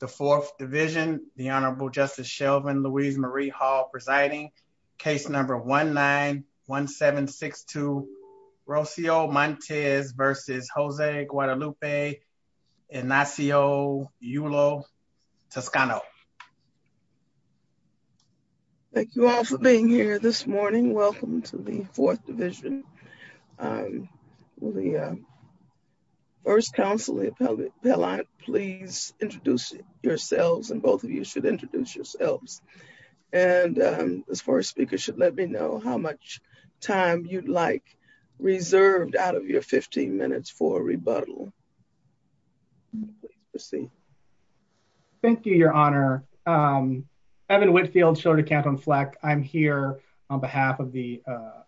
The Fourth Division, the Honorable Justice Shelvin Louise Marie Hall presiding, case number 1-9-1762, Rocio Montes versus Jose Guadalupe Ignacio Yulo-Toscano. Thank you all for being here this morning. Welcome to the Fourth Division. The first counseling appellant, please introduce yourselves, and both of you should introduce yourselves. And the first speaker should let me know how much time you'd like reserved out of your 15 minutes for a rebuttal. Please proceed. Thank you, Your Honor. Thank you, Your Honor. Evan Whitfield, Shorter Canton Fleck. I'm here on behalf of the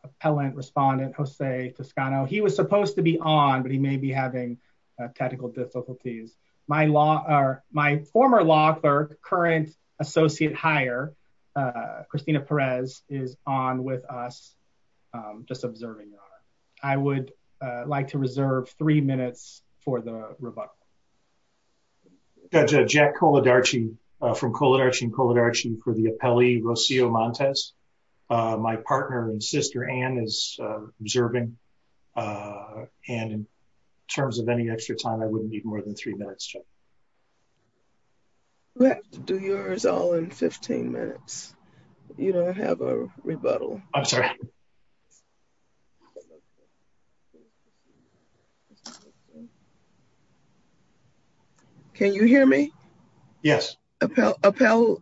appellant respondent, Jose Toscano. He was supposed to be on, but he may be having technical difficulties. My former law clerk, current associate hire, Christina Perez, is on with us, just observing, Your Honor. I would like to reserve three minutes for the rebuttal. Judge, Jack Coladarchi from Coladarchi and Coladarchi for the appellee, Rocio Montes. My partner and sister, Anne, is observing. And in terms of any extra time, I wouldn't need more than three minutes, Judge. You have to do yours all in 15 minutes. You don't have a rebuttal. I'm sorry. Can you hear me? Yes. Appellant?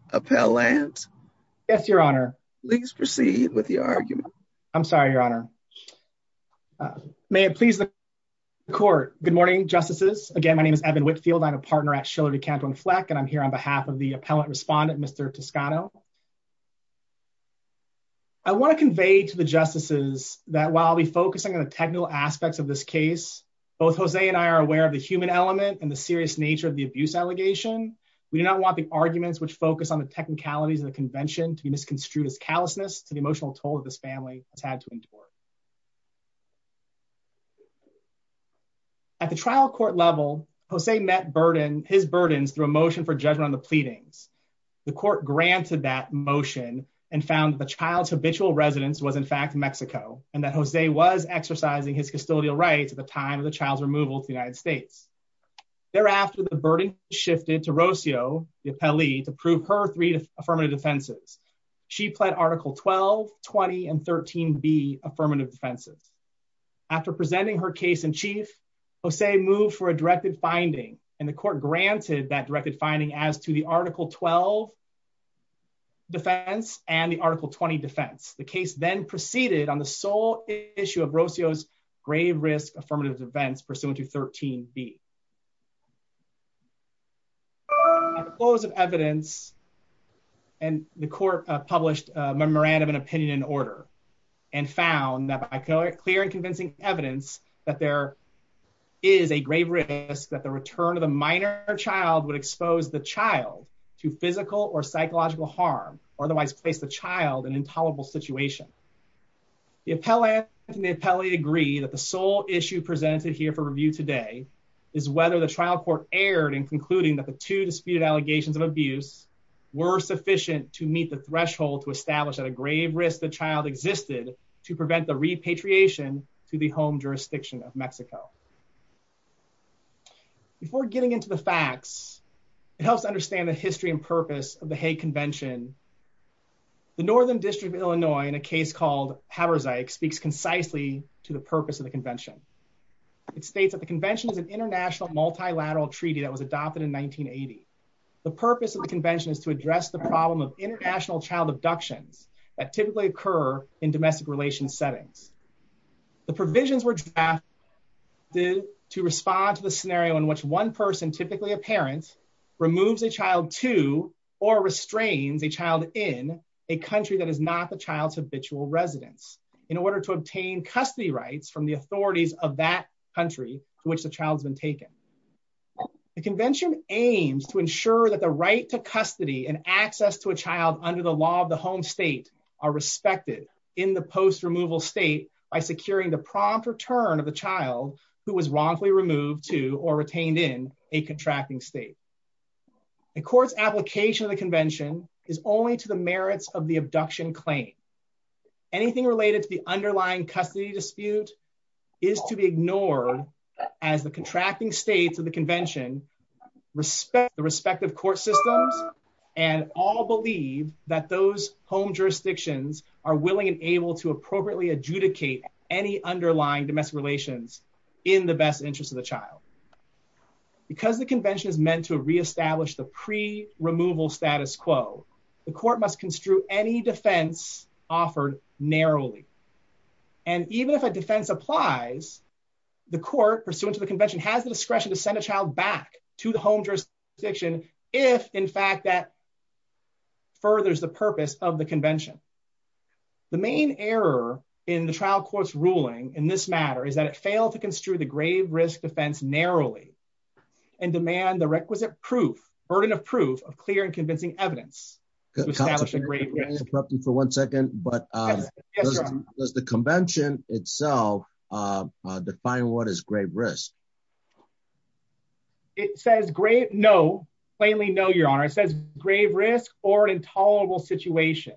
Yes, Your Honor. Please proceed with your argument. I'm sorry, Your Honor. May it please the court. Good morning, justices. Again, my name is Evan Whitfield. I'm a partner at Shorter Canton Fleck, and I'm here on behalf of the appellant respondent, Mr. Toscano. I want to convey to the justices that while I'll be focusing on the technical aspects of this case, both Jose and I are aware of the human element and the serious nature of the abuse allegation. We do not want the arguments which focus on the technicalities of the convention to be misconstrued as callousness to the emotional toll that this family has had to endure. At the trial court level, Jose met his burdens through a motion for judgment on the pleadings. The court granted that motion and found the child's habitual residence was in fact Mexico, and that Jose was exercising his custodial rights at the time of the child's removal to the United States. Thereafter, the burden shifted to Rocio, the appellee, to prove her three affirmative defenses. She pled Article 12, 20, and 13B affirmative defenses. After presenting her case in chief, Jose moved for a directed finding, and the court granted that directed finding as to the Article 12 defense and the Article 20 defense. The case then proceeded on the sole issue of Rocio's grave risk affirmative defense pursuant to 13B. At the close of evidence, the court published a memorandum and opinion in order, and found that by clear and convincing evidence that there is a grave risk that the return of a minor child would expose the child to physical or psychological harm, or otherwise place the child in an intolerable situation. The appellate and the appellee agree that the sole issue presented here for review today is whether the trial court erred in concluding that the two disputed allegations of abuse were sufficient to meet the threshold to establish that a grave risk the child existed to prevent the repatriation to the home jurisdiction of Mexico. Before getting into the facts, it helps to understand the history and purpose of the Hague Convention. The Northern District of Illinois, in a case called Haberzeik, speaks concisely to the purpose of the convention. It states that the convention is an international multilateral treaty that was adopted in 1980. The purpose of the convention is to address the problem of international child abductions that typically occur in domestic relations settings. The to respond to the scenario in which one person, typically a parent, removes a child to or restrains a child in a country that is not the child's habitual residence in order to obtain custody rights from the authorities of that country for which the child's been taken. The convention aims to ensure that the right to custody and access to a child under the law of the home state are respected in the post-removal state by securing the prompt return of the child who was wrongfully removed to or retained in a contracting state. A court's application of the convention is only to the merits of the abduction claim. Anything related to the underlying custody dispute is to be ignored as the contracting states of the convention respect the respective court systems and all believe that those home relations in the best interest of the child. Because the convention is meant to reestablish the pre-removal status quo, the court must construe any defense offered narrowly. And even if a defense applies, the court pursuant to the convention has the discretion to send a child back to the home jurisdiction if in fact that furthers the purpose of the convention. The main error in the trial court's ruling in this matter is that it failed to construe the grave risk defense narrowly and demand the requisite proof, burden of proof, of clear and convincing evidence to establish a great risk for one second. But does the convention itself define what is grave risk? It says grave, no, plainly no, your honor. It says grave risk or intolerable situation.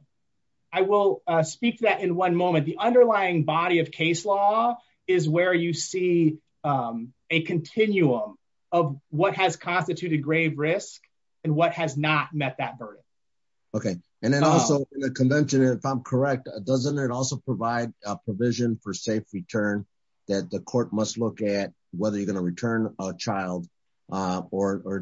I will speak to that in one moment. The underlying body of case law is where you see a continuum of what has constituted grave risk and what has not met that burden. Okay. And then also the convention, if I'm correct, doesn't it also provide a provision for safe return that the court must look at whether you're going to return a child or the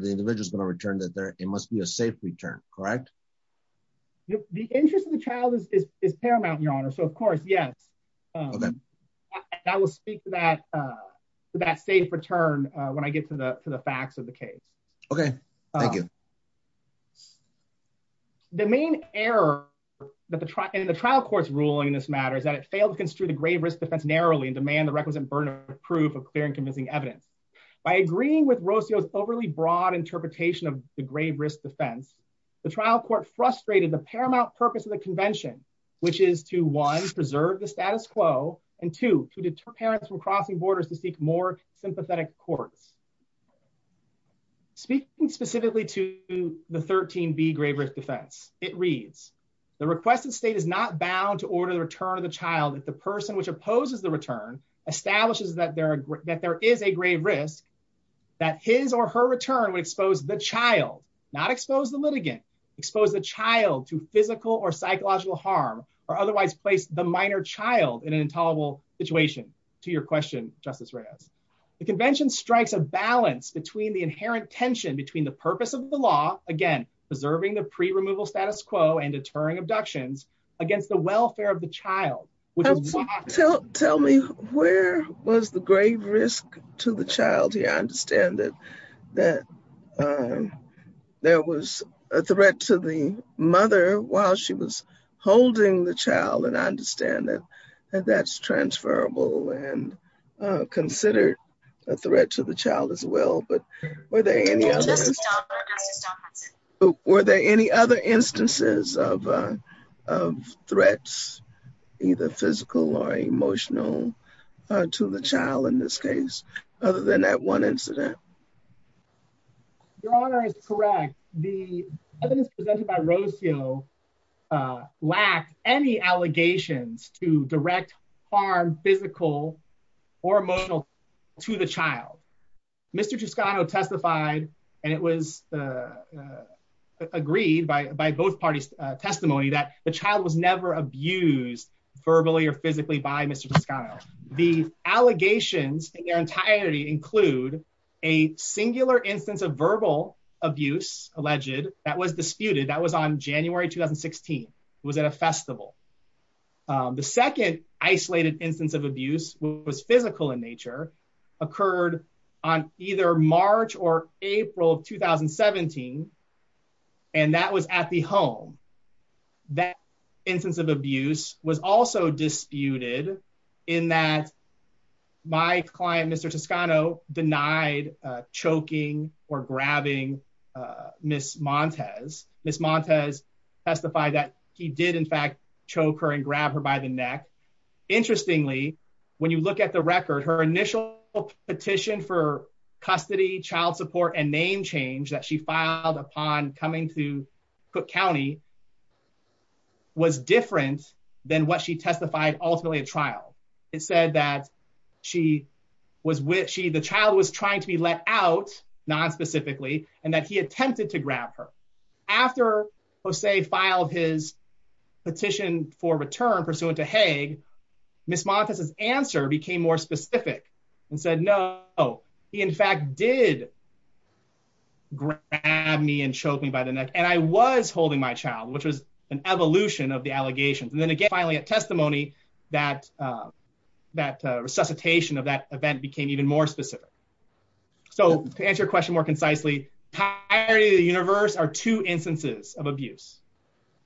The interest of the child is paramount, your honor. So of course, yes. I will speak to that safe return when I get to the facts of the case. Okay. Thank you. The main error in the trial court's ruling in this matter is that it failed to construe the grave risk defense narrowly and demand the requisite burden of proof of clear and convincing evidence. By agreeing with Rosio's overly broad interpretation of the grave risk defense, the trial court frustrated the paramount purpose of the convention, which is to one, preserve the status quo, and two, to deter parents from crossing borders to seek more sympathetic courts. Speaking specifically to the 13B grave risk defense, it reads, the requested state is not bound to order the return of the child if the person which opposes the return establishes that there is a grave risk, that his or her return would expose the child, not expose the litigant, expose the child to physical or psychological harm, or otherwise place the minor child in an intolerable situation. To your question, Justice Reyes. The convention strikes a balance between the inherent tension between the purpose of the law, again, preserving the pre-removal status quo and deterring abductions, against the welfare of the child. Tell me, where was the grave risk to the child here? I understand that there was a threat to the mother while she was holding the child, and I understand that that's transferable and considered a threat to the child as well, but were there any other instances of threats, either physical or emotional, to the child in this case, other than that one incident? Your Honor is correct. The evidence presented by Rocio lacked any allegations to direct harm, physical or emotional, to the child. Mr. Toscano testified, and it was agreed by both parties' testimony, that the child was never abused verbally or included a singular instance of verbal abuse, alleged, that was disputed, that was on January 2016. It was at a festival. The second isolated instance of abuse was physical in nature, occurred on either March or April of 2017, and that was at the home. That instance of abuse was also disputed in that my client, Mr. Toscano, denied choking or grabbing Ms. Montes. Ms. Montes testified that he did, in fact, choke her and grab her by the neck. Interestingly, when you look at the record, her initial petition for custody, child support, and name change that she filed upon coming to Cook County was different than what she testified ultimately at trial. It said that the child was trying to be let out, non-specifically, and that he attempted to grab her. After Jose filed his petition for return pursuant to Haig, Ms. Montes' answer became more specific and said, no, he, in fact, did grab me and choke me by the neck, and I was holding my child, which was an evolution of the allegations. Then again, finally, at testimony, that resuscitation of that event became even more specific. To answer your question more concisely, the entirety of the universe are two instances of abuse.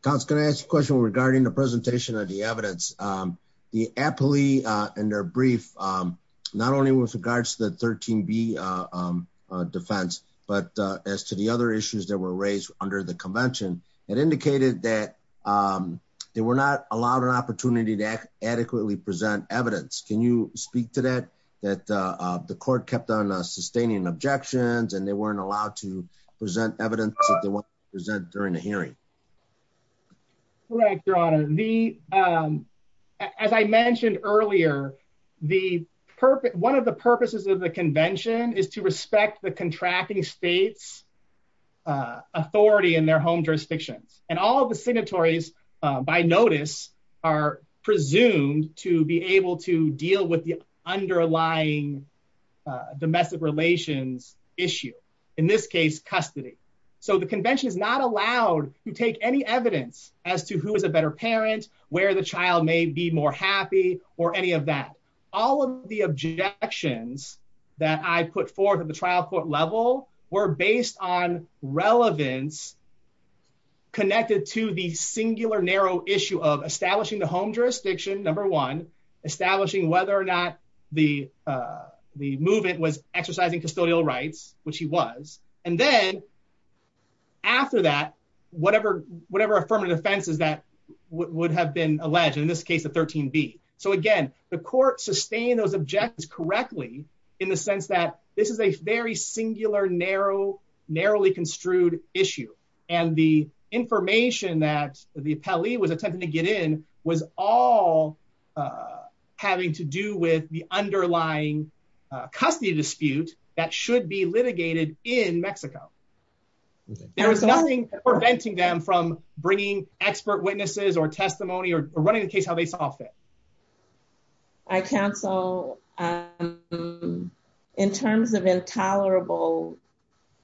Counsel, can I ask a question regarding the presentation of the evidence? The appellee in their brief, not only with regards to the 13B defense, but as to the other issues that were raised under the convention, it indicated that they were not allowed an opportunity to adequately present evidence. Can you speak to that, that the court kept on sustaining objections and they weren't allowed to present evidence that they wanted to present during the hearing? Correct, Your Honor. As I mentioned earlier, one of the purposes of the convention is to respect the contracting state's authority in their home jurisdictions. All of the signatories, by notice, are presumed to be able to deal with the underlying domestic relations issue, in this case, custody. The convention is not allowed to take any evidence as to who is a better parent, where the child may be more happy, or any of that. All of the objections that I put forth at the trial court level were based on relevance connected to the singular narrow issue of establishing the home jurisdiction, number one, establishing whether or not the movement was exercising custodial rights, which he was. Then, after that, whatever affirmative offenses that would have been alleged, in this case, the 13B. Again, the court sustained those objections correctly in the sense that this is a very singular, narrowly construed issue. The information that the appellee was attempting to get in was all having to do with the underlying custody dispute that should be litigated in Mexico. There was nothing preventing them from bringing expert witnesses, or testimony, or running the case how they saw fit. I counsel, in terms of intolerable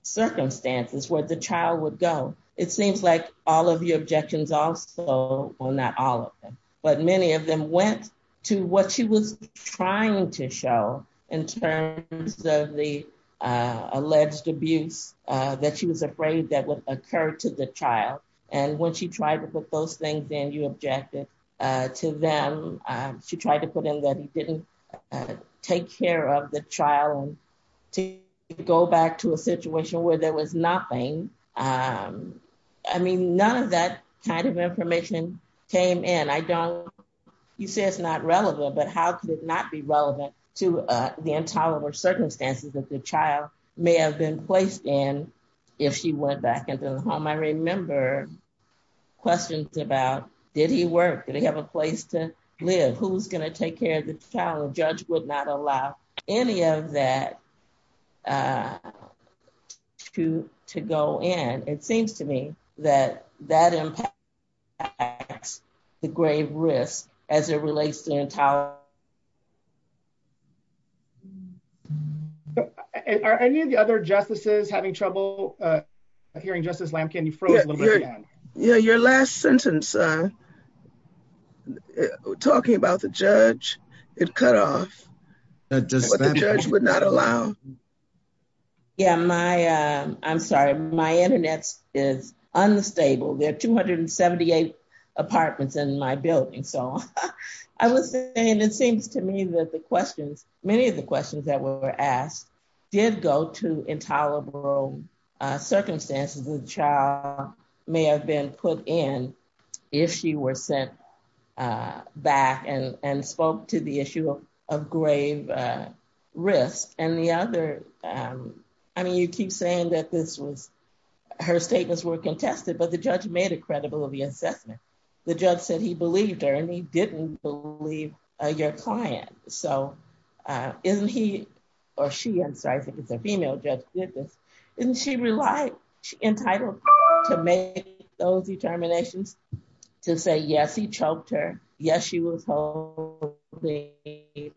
circumstances where the child would go, it seems like all of the objections also, well, not all of them, but many of them went to what she was trying to show in terms of the alleged abuse that she was afraid that would occur to the child. When she tried to put those things in, you objected to them. She tried to put in that he didn't take care of the child to go back to a situation where there was nothing. None of that kind of information came in. You say it's not relevant, but how could it not be relevant to the intolerable circumstances that the child may have been placed in if she went back to the home? I remember questions about, did he work? Did he have a place to live? Who's going to take care of the child? The judge would not allow any of that to go in. It seems to me that that impacts the grave risk as it relates to intolerance. Are any of the other justices having trouble hearing Justice Lamkin? Your last sentence, talking about the judge, it cut off, but the judge would not allow. I'm sorry. My internet is unstable. There are 278 apartments in my building. I was saying it seems to me that many of the questions that were asked did go to intolerable circumstances that the child may have been put in if she were sent back and spoke to the issue of grave risk. You keep saying that her statements were contested, but the judge made it credible via assessment. The judge said he believed her and he didn't believe your client. Isn't he, or she, I'm sorry, I think it's a female judge who did this. Isn't she entitled to make those determinations to say, yes, he choked her. Yes, she was holding the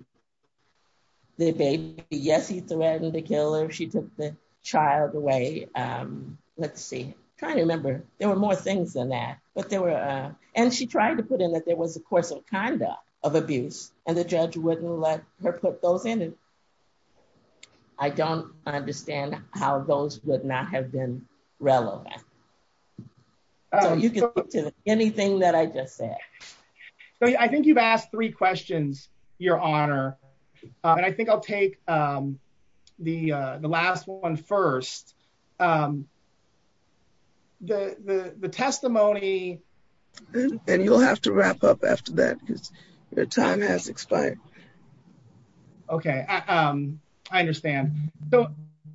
baby. Yes, he threatened to kill her if she took the child away. Let's see. I'm trying to remember. There were more things than that, but there were, and she tried to put in that there was a course of conduct of abuse and the judge wouldn't let her put those in. And I don't understand how those would not have been relevant. So you can look to anything that I just said. I think you've asked three questions, your honor. And I think I'll take the last one first. The testimony. And you'll have to wrap up after that because your time has expired. Okay. I understand. So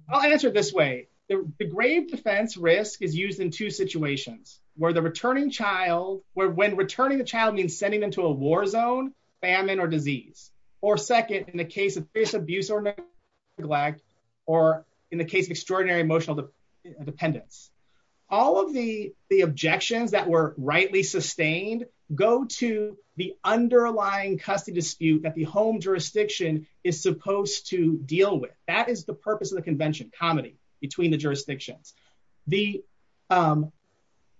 I'll answer it this way. The grave defense risk is used in two situations where the returning child, where when returning the child means sending them to a war zone, famine, or disease, or second, in the case of abuse or neglect, or in the case of extraordinary emotional dependence. All of the objections that were rightly sustained go to the underlying custody dispute that the home jurisdiction is supposed to deal with. That is the purpose of the convention, comedy between the jurisdictions. The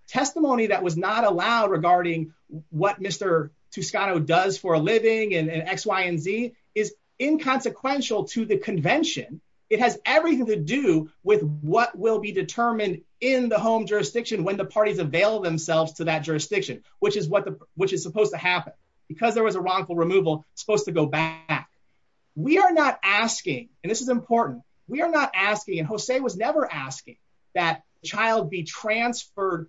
testimony that was not allowed regarding what Mr. Toscano does for a living and X, Y, and Z is inconsequential to the convention. It has everything to do with what will be determined in the home jurisdiction when the parties avail themselves to that jurisdiction, which is what the, which is supposed to happen because there was a wrongful removal supposed to go back. We are not asking, and this is important. We are not asking. And Jose was never asking that child be transferred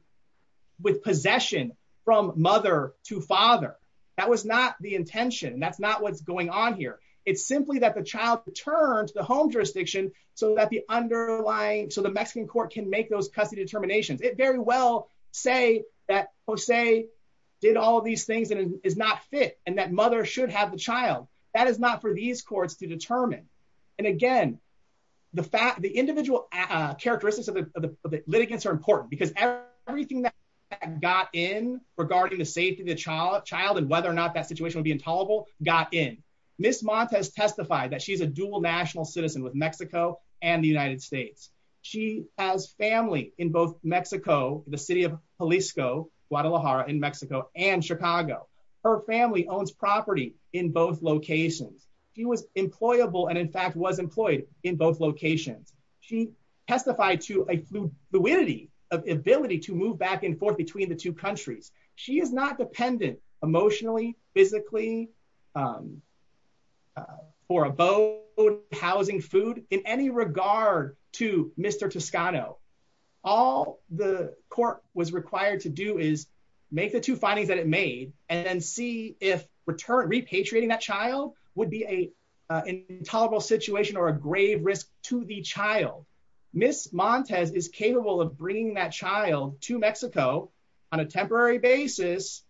with possession from mother to father. That was not the intention. That's not what's going on here. It's simply that the child returned to the home jurisdiction so that the underlying, so the Mexican court can make those custody determinations. It very well say that Jose did all of these things and is not fit and that mother should have the child. That is not for these courts to determine. And again, the fact, the individual characteristics of the litigants are important because everything that got in regarding the safety of the child and whether or not that situation would be intolerable got in. Ms. Montes testified that she's a dual national citizen with Mexico and the United States. She has family in both Mexico, the city of Jalisco, Guadalajara in Mexico and Chicago. Her family owns property in both locations. She was employable and in fact was employed in both locations. She testified to a fluidity of ability to move back and forth between the two countries. She is not dependent emotionally, physically, for a boat, housing, food in any regard to Mr. Toscano. All the court was required to do is make the two findings that it made and then see if return repatriating that child would be a intolerable situation or a grave risk to the child. Ms. Montes is capable of bringing that child to Mexico on a temporary basis,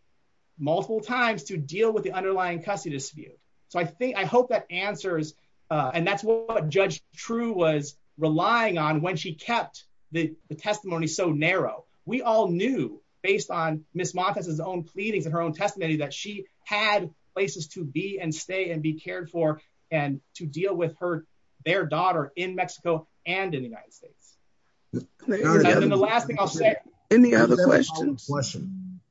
multiple times to deal with the underlying custody dispute. So I think, I hope that answers and that's what Judge True was relying on when she kept the testimony so narrow. We all knew based on Ms. Montes' own pleadings and her own testimony that she had places to be and stay and be cared for and to deal with her, their daughter in Mexico and in the United States. And the last thing I'll say. Any other questions?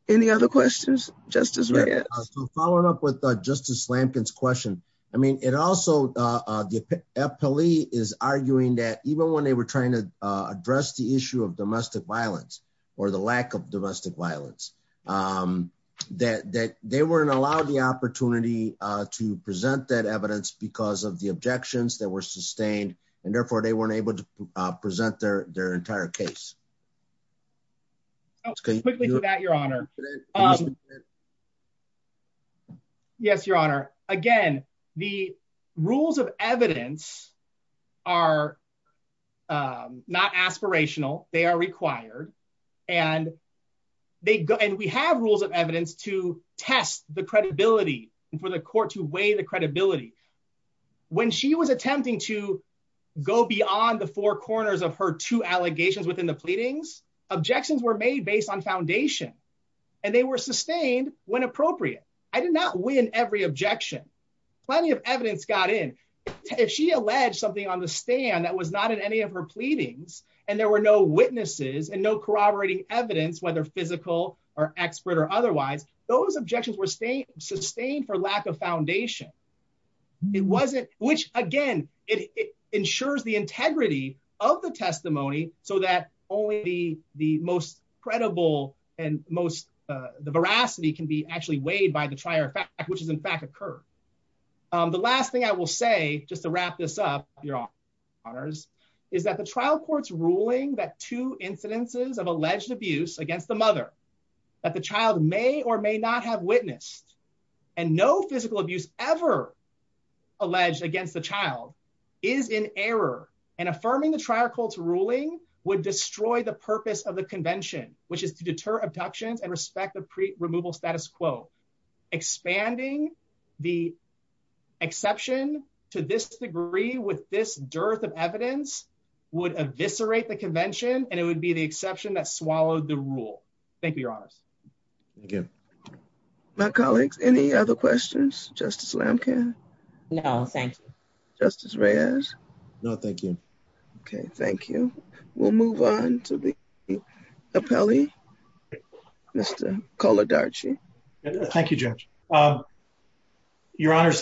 Any other questions, Justice Reyes? So following up with Justice Lampkin's question, I mean it also, the FPLE is arguing that even when they were trying to address the issue of domestic violence or the lack of domestic violence, that they weren't allowed the opportunity to present that evidence because of the objections that were sustained and therefore they weren't able to present their entire case. Quickly to that, Your Honor. Yes, Your Honor. Again, the rules of evidence are not aspirational. They are required and they go and we have rules of evidence to test the credibility and for the court to weigh the credibility. When she was attempting to go beyond the four corners of her two allegations within the pleadings, objections were made based on foundation and they were sustained when appropriate. I did not win every objection. Plenty of evidence got in. If she alleged something on the stand that was not in any of her pleadings and there were no witnesses and no corroborating evidence, whether physical or expert or otherwise, those objections were sustained for lack of foundation. It wasn't, which again, it ensures the integrity of the testimony so that only the most credible and most, the veracity can be actually weighed by the trier fact, which has in fact occurred. The last thing I will say just to wrap this up, Your Honor, is that the trial court's ruling that two incidences of alleged abuse against the mother that the child may or may not have witnessed and no physical abuse ever alleged against the child is in error and affirming the trial court's ruling would destroy the purpose of the convention, which is to deter abductions and respect the removal status quo. Expanding the exception to this degree with this dearth of evidence would eviscerate the convention and it would be the exception that swallowed the rule. Thank you, Your Honors. Thank you. My colleagues, any other questions? Justice Lamkin? No, thank you. Justice Reyes? No, thank you. Okay, thank you. We'll move on to the appellee, Mr. Coladarchi. Thank you, Judge. Your Honor,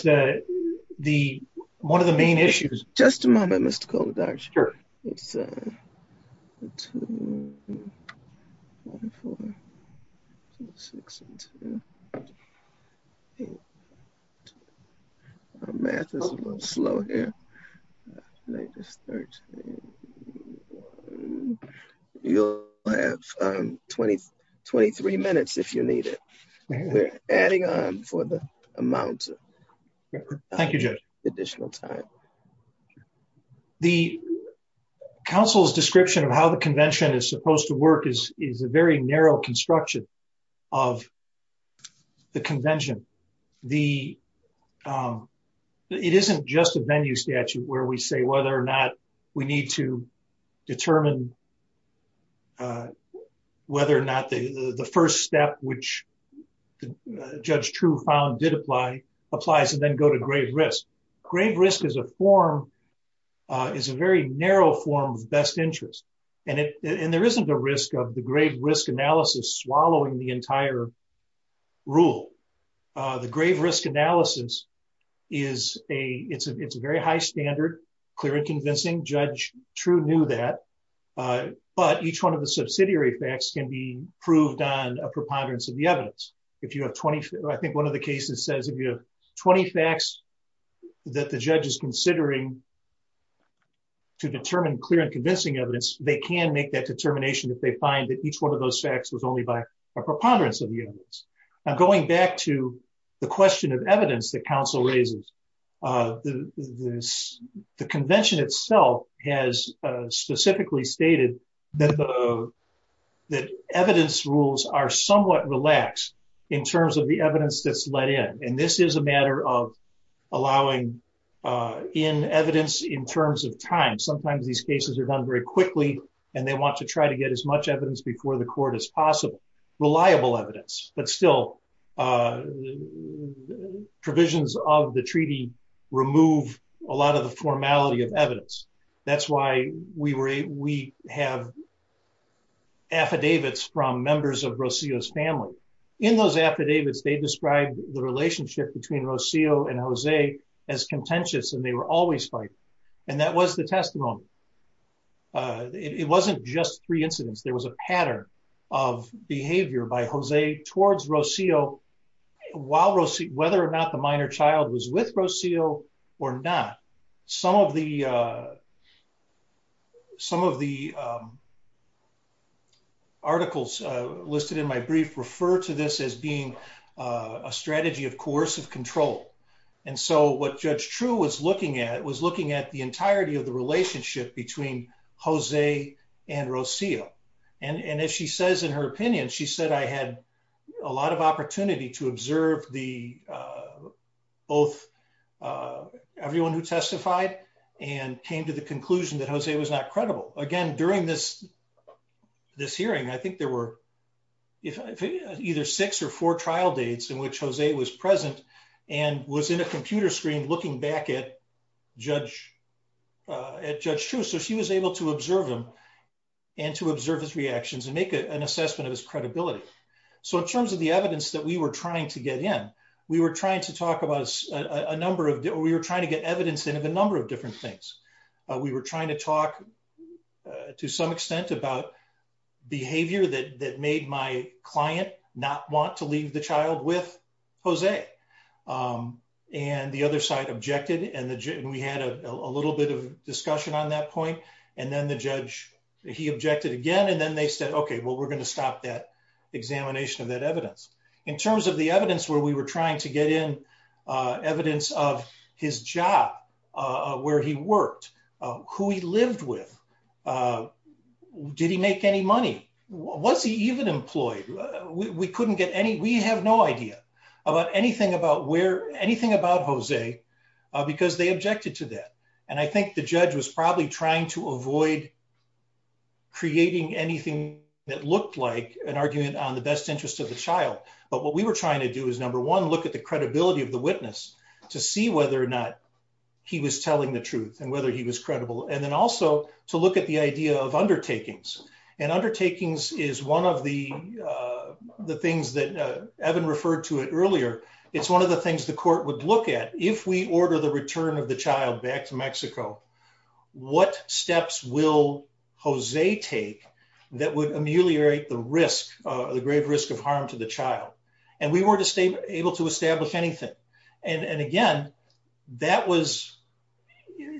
one of the main issues... Just a moment, Mr. Coladarchi. Sure. So, two, one, four, two, six, and two. Our math is a little slow here. You'll have 23 minutes if you need it. We're adding on for the amount of additional time. Thank you, Judge. The council's description of how the convention is supposed to work is a very narrow construction of the convention. It isn't just a venue statute where we say whether or not we need to determine whether or not the first step, which Judge True found did apply, applies and then go to grave risk. Grave risk is a very narrow form of best interest, and there isn't a risk of the grave risk analysis swallowing the entire rule. The grave risk analysis, it's a very high standard, clear and convincing. Judge True knew that. But each one of the subsidiary facts can be proved on a preponderance of the evidence. I think one of the cases says if you have 20 facts that the judge is considering to determine clear and convincing evidence, they can make that determination if they find that each one of those facts was only by a preponderance of the evidence. I'm going back to the question of evidence that council raises. The convention itself has specifically stated that evidence rules are somewhat relaxed in terms of the evidence that's let in. This is a matter of allowing in evidence in terms of time. Sometimes these cases are done very quickly, and they want to try to get as much evidence before the court as possible. Reliable evidence, but still provisions of the treaty remove a lot of the formality of evidence. That's why we have affidavits from members of Rocio's family. Those affidavits, they described the relationship between Rocio and Jose as contentious, and they were always fighting. That was the testimony. It wasn't just three incidents. There was a pattern of behavior by Jose towards Rocio, whether or not the minor child was with being a strategy of coercive control. What Judge True was looking at was looking at the entirety of the relationship between Jose and Rocio. If she says in her opinion, she said, I had a lot of opportunity to observe everyone who testified and came to the conclusion that Jose was credible. During this hearing, I think there were either six or four trial dates in which Jose was present and was in a computer screen looking back at Judge True. She was able to observe him and to observe his reactions and make an assessment of his credibility. In terms of the evidence that we were trying to get in, we were trying to get evidence in of a to some extent about behavior that made my client not want to leave the child with Jose. The other side objected. We had a little bit of discussion on that point. Then the judge, he objected again. Then they said, okay, we're going to stop that examination of that evidence. In terms of the evidence where we were trying to get in, evidence of his job, where he worked, who he lived with, did he make any money? Was he even employed? We have no idea about anything about where, anything about Jose because they objected to that. I think the judge was probably trying to avoid creating anything that looked like an argument on the best interest of the child. What we were trying to do is number one, look at the credibility of the witness to see whether or not he was telling the truth and whether he was credible. Then also to look at the idea of undertakings. Undertakings is one of the things that Evan referred to it earlier. It's one of the things the court would look at if we order the return of the child back to Mexico. What steps will Jose take that would ameliorate the risk, the grave risk of harm to the child? We weren't able to establish anything. Again,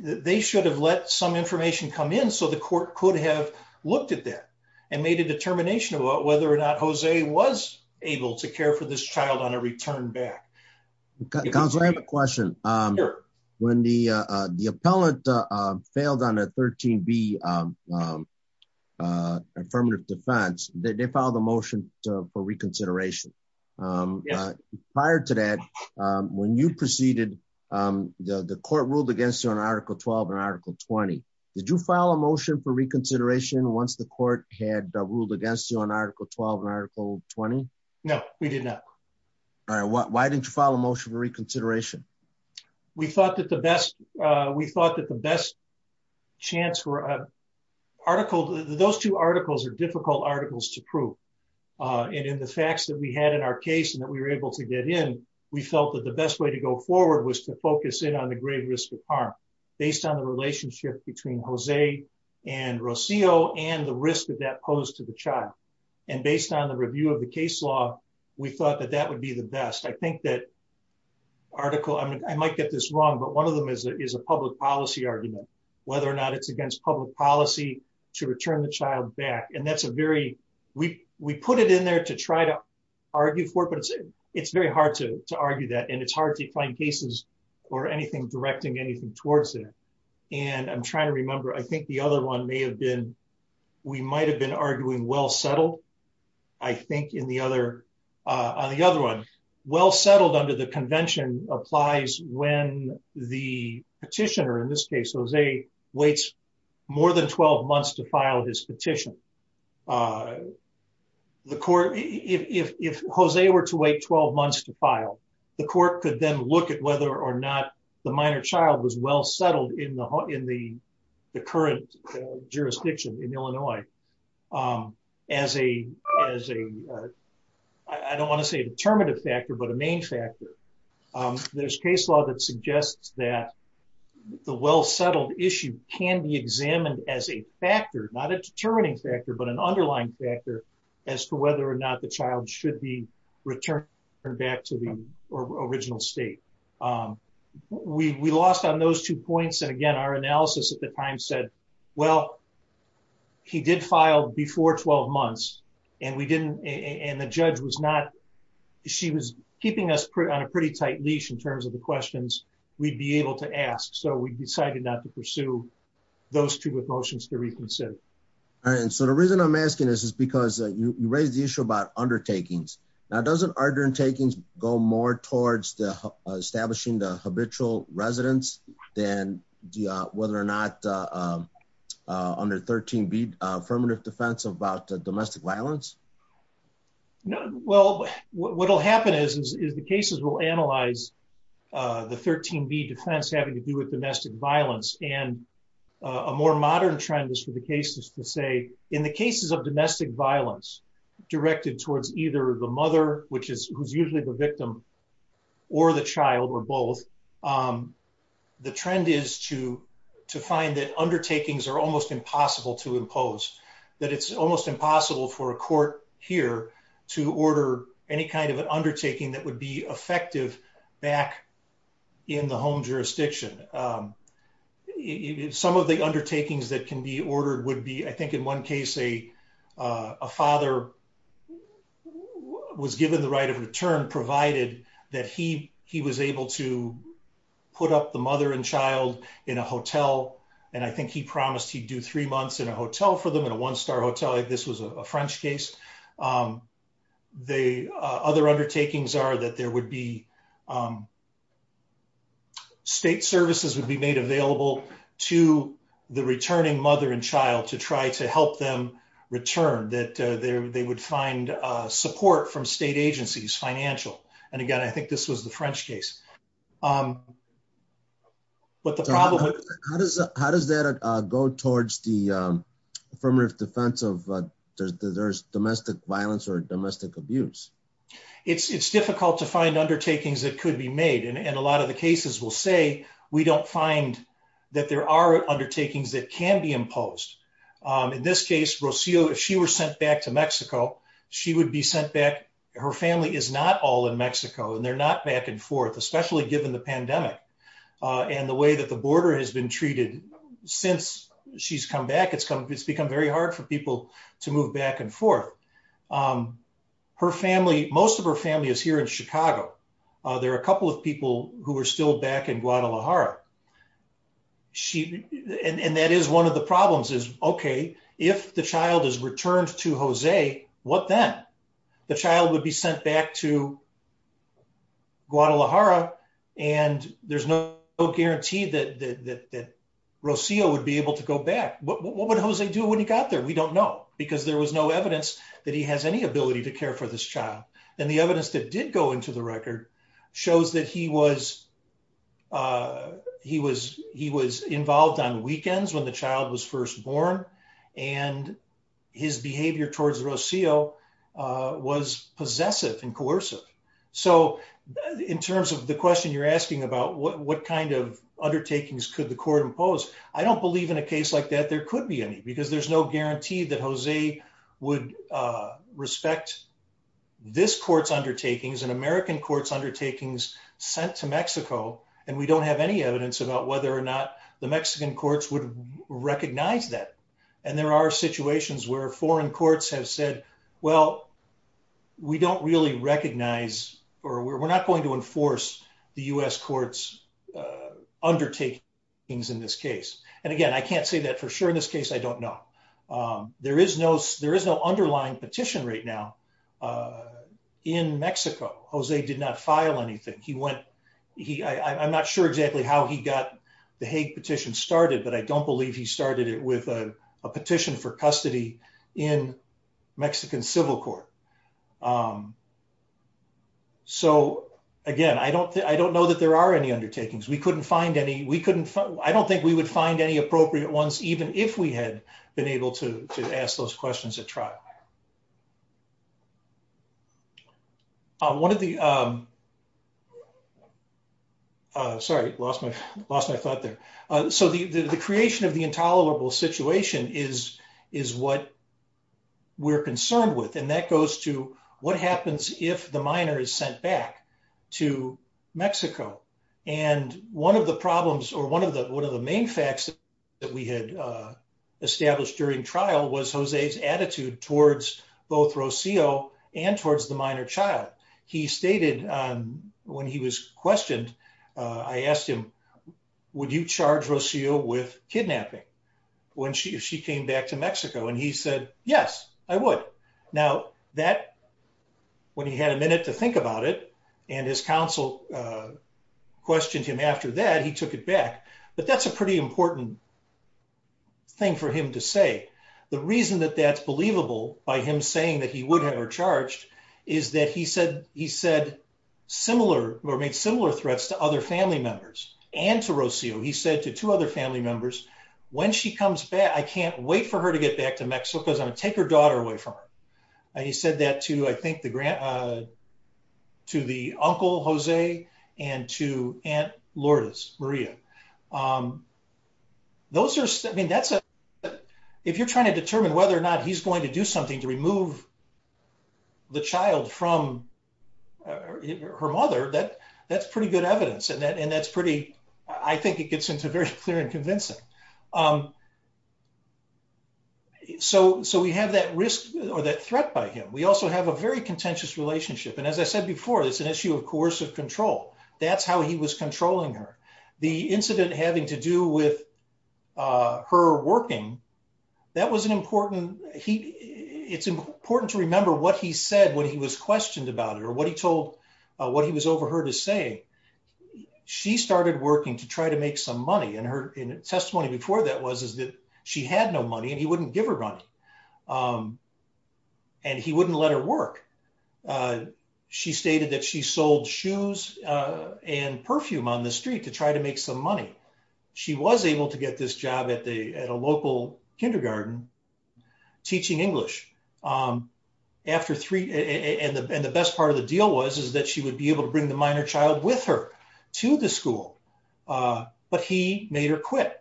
they should have let some information come in so the court could have looked at that and made a determination about whether or not Jose was able to care for this child on a return back. Counsel, I have a question. When the appellant failed on a 13B affirmative defense, they filed a motion for reconsideration. Prior to that, when you proceeded, the court ruled against you on Article 12 and Article 20. Did you file a motion for reconsideration once the court had ruled against you on Article 12 and Article 20? No, we did not. Why didn't you file a motion for reconsideration? We thought that the best chance for an article... Those two articles are difficult articles to prove. And in the facts that we had in our case and that we were able to get in, we felt that the best way to go forward was to focus in on the grave risk of harm based on the relationship between Jose and Rocio and the risk that that posed to the child. And based on the review of the case law, we thought that that would be the best. I think that article... I might get this wrong, but one of them is a public policy argument, whether or not it's against public policy to return the child back. And that's a very... We put it in there to try to argue for it, but it's very hard to argue that. And it's hard to find cases or anything directing anything towards that. And I'm trying to remember, I think the other one may have been... We might've been arguing well settled, I think, on the other one. Well settled under the convention applies when the petitioner, in this case, Jose, waits more than 12 months to file his petition. If Jose were to wait 12 months to file, the court could then look at whether or not the minor child was well settled in the current jurisdiction in Illinois as a... I don't wanna say a determinative factor, but a main factor. There's case law that suggests that the well settled issue can be examined as a factor, not a determining factor, but an underlying factor as to whether or not the child should be returned back to the original state. We lost on those two points. And again, our analysis at the time said, well, he did file before 12 months and we didn't... And the judge was not... She was keeping us on a pretty tight leash in terms of the questions we'd be able to ask. So we decided not to pursue those two motions to reconsider. All right. And so the reason I'm asking this is because you raised the issue about undertakings. Now, doesn't undertakings go more towards establishing the habitual residence than whether or not under 13B affirmative defense about domestic violence? Well, what will happen is the cases will analyze the 13B defense having to do with domestic violence. And a more modern trend is for the cases to say, in the cases of domestic violence directed towards either the mother, who's usually the victim or the child or both, the trend is to find that undertakings are almost impossible to impose, that it's almost impossible for a court here to order any kind of an undertaking that would be effective back in the home jurisdiction. Some of the undertakings that can be ordered would be, I think in one case, a father was given the right of return provided that he was able to put up the mother and child in a hotel. And I think he promised he'd do three months in a hotel for them in a one-star hotel. This was a French case. Other undertakings are that there would be, state services would be made available to the returning mother and child to try to help them return, that they would find support from state agencies, financial. And again, I think this was the French case. How does that go towards the affirmative defense of there's domestic violence or domestic abuse? It's difficult to find undertakings that could be made. And a lot of the cases will say, we don't find that there are undertakings that can be imposed. In this case, Rocio, if she were sent back to Mexico, she would be sent back, her family is not all in Mexico and they're not back and forth, especially given the pandemic and the way that the border has been treated since she's come back. It's become very hard for people to move back and forth. Most of her family is here in Chicago. There are a couple of people who are still back in Guadalajara. And that is one of the problems is, okay, if the child is sent back to Guadalajara and there's no guarantee that Rocio would be able to go back, what would Jose do when he got there? We don't know, because there was no evidence that he has any ability to care for this child. And the evidence that did go into the record shows that he was involved on and coercive. So in terms of the question you're asking about what kind of undertakings could the court impose, I don't believe in a case like that there could be any, because there's no guarantee that Jose would respect this court's undertakings and American court's undertakings sent to Mexico. And we don't have any evidence about whether or not the Mexican courts would recognize that. And there are situations where foreign courts have said, well, we don't really recognize, or we're not going to enforce the U.S. court's undertakings in this case. And again, I can't say that for sure in this case, I don't know. There is no underlying petition right now in Mexico. Jose did not file anything. I'm not sure exactly how he got the Hague petition started, but I don't believe he started it with a petition for custody in Mexican civil court. So again, I don't know that there are any undertakings. I don't think we would find any appropriate ones, even if we had been able to ask those questions at trial. One of the, sorry, lost my thought there. So the creation of the intolerable situation is what we're concerned with. And that goes to what happens if the minor is sent back to Mexico. And one of the problems or one of the main facts that we had established during trial was Jose's both Rocio and towards the minor child. He stated when he was questioned, I asked him, would you charge Rocio with kidnapping if she came back to Mexico? And he said, yes, I would. Now that, when he had a minute to think about it, and his counsel questioned him after that, he took it back. But that's a pretty important thing for him to say. The reason that that's believable by him saying that he would have her charged is that he said similar or made similar threats to other family members and to Rocio. He said to two other family members, when she comes back, I can't wait for her to get back to Mexico because I'm going to take her daughter away from her. And he said that to, I think, to the uncle Jose and to aunt Lourdes Maria. Those are, I mean, that's a, if you're trying to determine whether or not he's going to do something to remove the child from her mother, that's pretty good evidence. And that's pretty, I think it gets into very clear and convincing. So we have that risk or that threat by him. We also have a very contentious relationship. And as I said before, it's an issue of coercive control. That's how he was controlling her. The incident having to do with her working, that was an important, it's important to remember what he said when he was questioned about her, what he told, what he was over her to say. She started working to try to make some money. And her testimony before that was, is that she had no money and he wouldn't give her money. And he wouldn't let her work. She stated that she sold shoes and perfume on the street to try to make some money. She was able to get this job at a local kindergarten teaching English. After three, and the best part of the deal was, is that she would be able to bring the minor child with her to the school. But he made her quit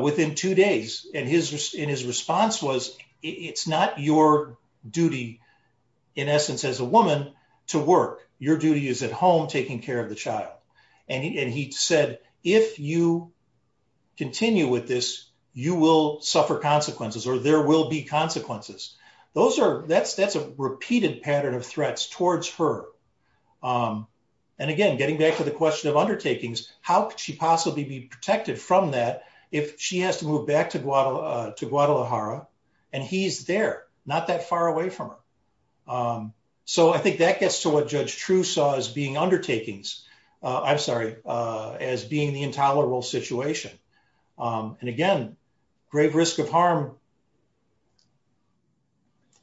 within two days. And his response was, it's not your duty, in essence, as a woman to work. Your duty is at home taking care of the child. And he said, if you continue with this, you will suffer consequences or there will be consequences. Those are, that's a repeated pattern of threats towards her. And again, getting back to the question of undertakings, how could she possibly be protected from that if she has to move back to Guadalajara and he's there, not that far away from her. So I think that gets to what Judge True saw as being undertakings, I'm sorry, as being the intolerable situation. And again, grave risk of harm,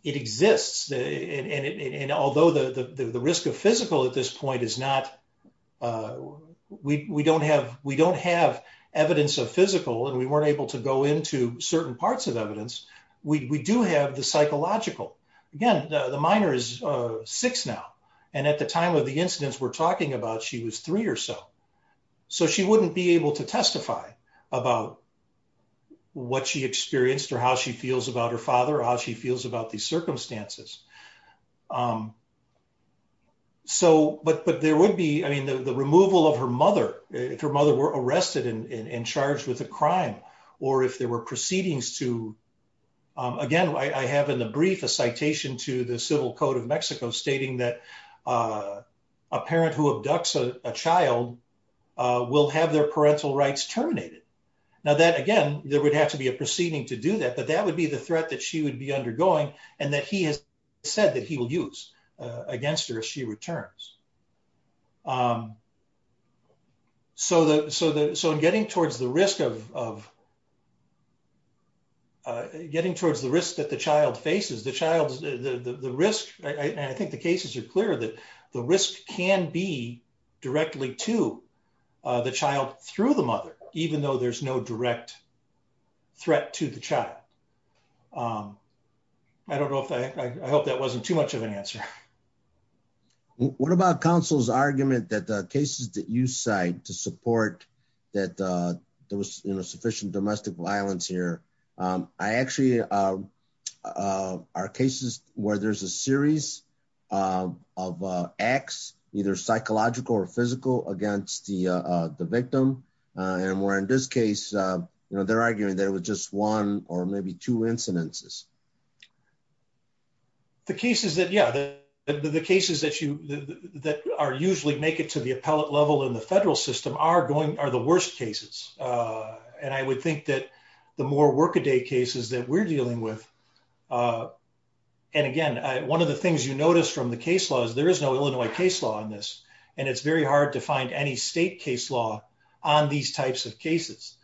it exists. And although the risk of physical at this point is not, we don't have evidence of physical and we weren't able to go into certain parts of evidence. We do have the psychological. Again, the minor is six now. And at the time of the incidents we're talking about, she was three or so. So she wouldn't be able to testify about what she experienced or how she feels about her father, how she feels about these circumstances. So, but there would be, I mean, the removal of her mother, if her mother were arrested and charged with a crime, or if there were proceedings to, again, I have in the brief, a citation to the civil code of Mexico stating that a parent who abducts a child will have their parental rights terminated. Now that, again, there would have to be a proceeding to do that, but that would be the threat that she would be undergoing and that he has said that he will use against her if she returns. So in getting towards the risk of, getting towards the risk that the child faces, the child's, the risk, I think the cases are clear that the risk can be directly to the child through the mother, even though there's no direct threat to the child. I don't know if I, I hope that wasn't too much of an answer. What about counsel's argument that the cases that you cite to support that there was sufficient domestic violence here, I actually, are cases where there's a series of acts, either psychological or physical against the victim. And where in this case, they're arguing that it was just one or maybe two incidences. The cases that, yeah, the cases that you, that are usually make it to the appellate level in the federal system are going, are the worst cases. And I would think that the more workaday cases that we're dealing with. And again, one of the things you notice from the case law is there is no Illinois case law on this. And it's very hard to find any state case law on these types of cases.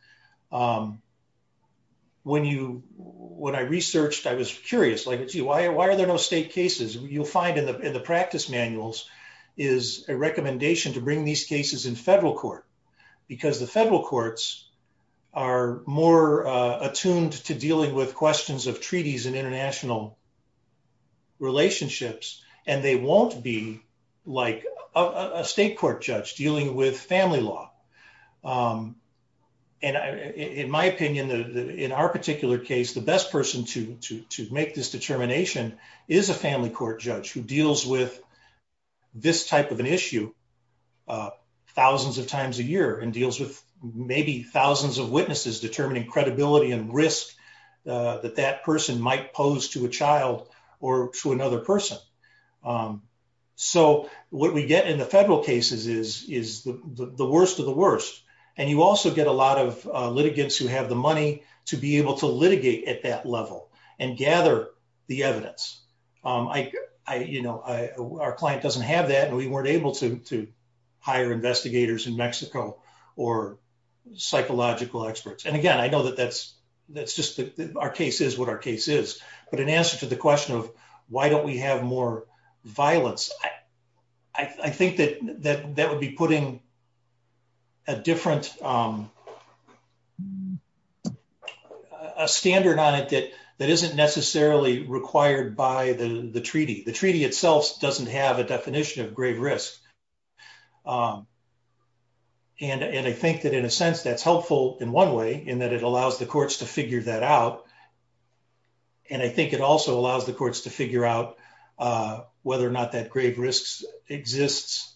When you, when I researched, I was curious, like, why are there no state cases? You'll find in the practice manuals is a recommendation to bring these cases in federal court, because the federal courts are more attuned to dealing with questions of treaties and international relationships. And they won't be like a state court judge dealing with family law. And in my opinion, in our particular case, the best person to make this determination is a family court judge who deals with this type of an issue thousands of times a year and deals with maybe thousands of witnesses determining credibility and risk that that person might pose to a child or to another person. So what we get in the federal cases is the worst of the worst. And you also get a lot of litigants who have the money to be able to litigate at that level and gather the evidence. Our client doesn't have that. And we weren't able to hire investigators in Mexico or psychological experts. And again, I know that that's just our case is what our case is. But answer to the question of why don't we have more violence? I think that that would be putting a different standard on it that isn't necessarily required by the treaty. The treaty itself doesn't have a definition of grave risk. And I think that in a sense, that's helpful in one way in that it allows the courts to figure that out. And I think it also allows the courts to figure out whether or not that grave risks exists,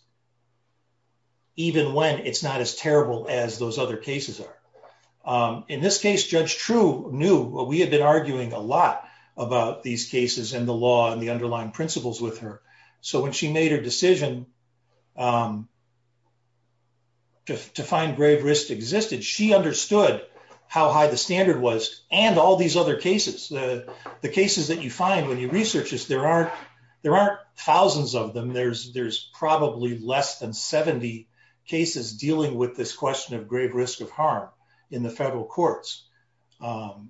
even when it's not as terrible as those other cases are. In this case, Judge True knew what we had been arguing a lot about these cases and the law and the underlying principles with her. So when she made her decision to find grave risk existed, she understood how high the standard was and all these other cases. The cases that you find when you research this, there aren't thousands of them. There's probably less than 70 cases dealing with this question of grave risk of harm in the federal courts. But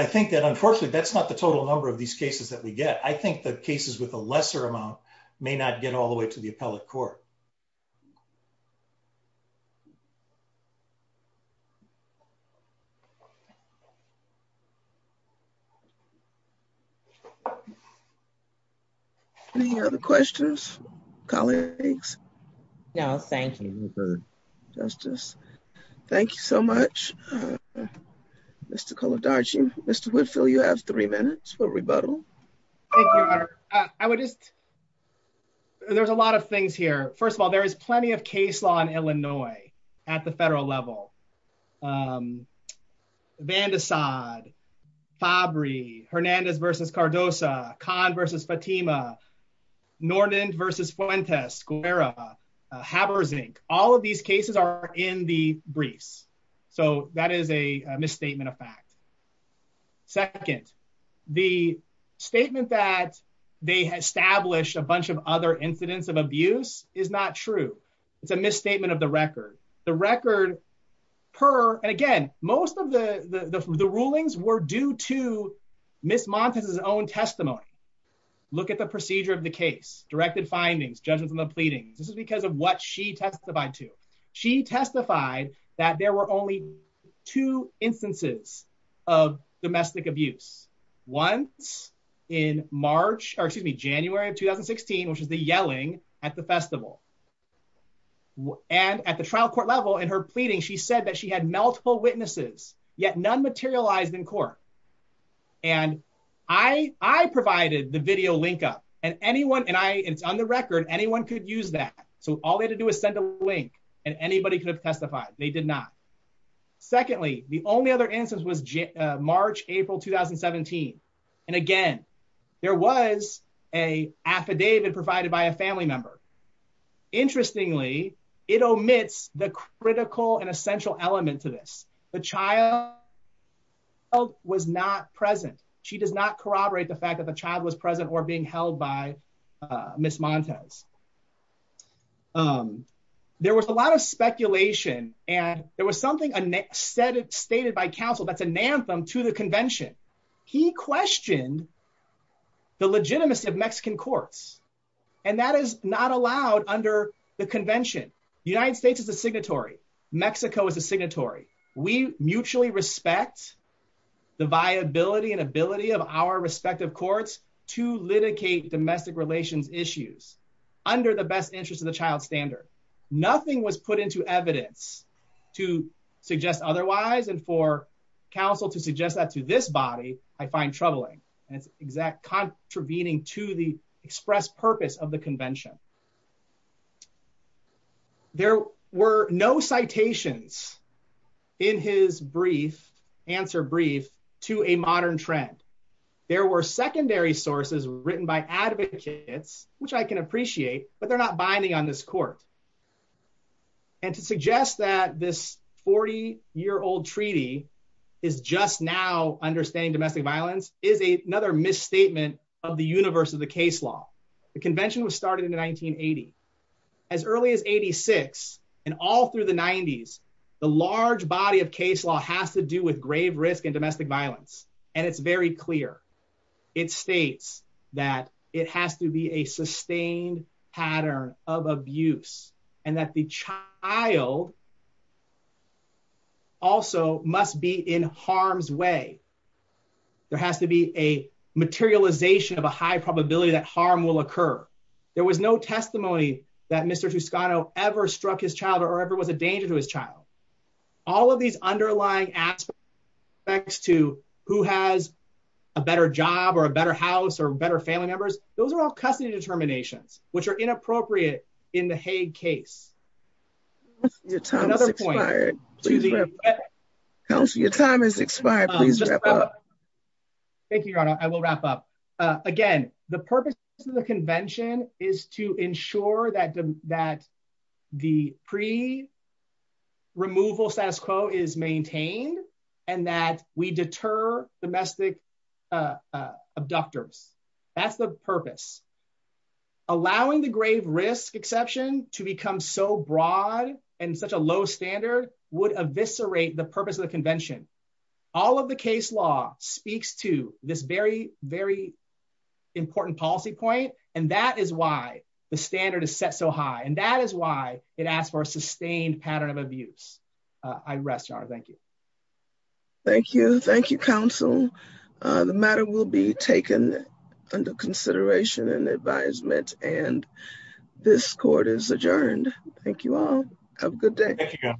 I think that unfortunately, that's not the total number of these cases that we get. I think the cases with a lesser amount may not get all the way to the federal courts. Any other questions, colleagues? No, thank you, Justice. Thank you so much, Mr. Kolodarchy. Mr. Whitfield, you have three minutes for rebuttal. I would just, there's a lot of things here. First of all, there is plenty of case law in Illinois at the federal level. Vandesad, Fabri, Hernandez v. Cardoza, Kahn v. Fatima, Nornand v. Fuentes, Guerra, Haberzink, all of these cases are in the briefs. So that is a misstatement of fact. Second, the statement that they established a bunch of other incidents of the record per, and again, most of the rulings were due to Ms. Montes' own testimony. Look at the procedure of the case, directed findings, judgments on the pleadings. This is because of what she testified to. She testified that there were only two instances of domestic abuse. Once in March, or excuse me, January of 2016, which is the yelling at the festival, and at the trial court level in her pleading, she said that she had multiple witnesses, yet none materialized in court. And I provided the video link up, and anyone, and I, it's on the record, anyone could use that. So all they had to do is send a link and anybody could have testified. They did not. Secondly, the only other instance was March, April, 2017. And again, there was an affidavit provided by a family member. Interestingly, it omits the critical and essential element to this. The child was not present. She does not corroborate the fact that the child was present or being held by Ms. Montes. There was a lot of speculation, and there was something stated by counsel that's an anthem to the convention. He questioned the legitimacy of Mexican courts, and that is not allowed under the convention. The United States is a signatory. Mexico is a signatory. We mutually respect the viability and ability of our respective courts to litigate domestic relations issues under the best interest of the child's standard. Nothing was put into evidence to suggest otherwise, and for counsel to suggest that to this body, I find troubling, and it's contravening to the expressed purpose of the convention. There were no citations in his brief, answer brief, to a modern trend. There were secondary sources written by advocates, which I can appreciate, but they're not binding on this court, and to suggest that this 40-year-old treaty is just now understanding domestic violence is another misstatement of the universe of the case law. The convention was started in 1980. As early as 86, and all through the 90s, the large body of case law has to do with grave risk and domestic violence, and it's very clear. It states that it has to be a sustained pattern of abuse, and that the child also must be in harm's way. There has to be a materialization of a high probability that harm will occur. There was no testimony that Mr. Toscano ever struck his child or ever was a danger to his child. All of these underlying aspects to who has a better job or a better house or better family members, those are all custody determinations, which are inappropriate in the Hague case. Your time has expired. Your time has expired. Please wrap up. Thank you, Your Honor. I will wrap up. Again, the purpose of the convention is to ensure that that the pre-removal status quo is maintained and that we deter domestic abductors. That's the purpose. Allowing the grave risk exception to become so broad and such a low standard would eviscerate the purpose of the convention. All of the case law speaks to this very important policy point, and that is why the standard is set so high. That is why it asks for a sustained pattern of abuse. I rest, Your Honor. Thank you. Thank you. Thank you, counsel. The matter will be taken under consideration and advisement, and this court is adjourned. Thank you all. Have a good day.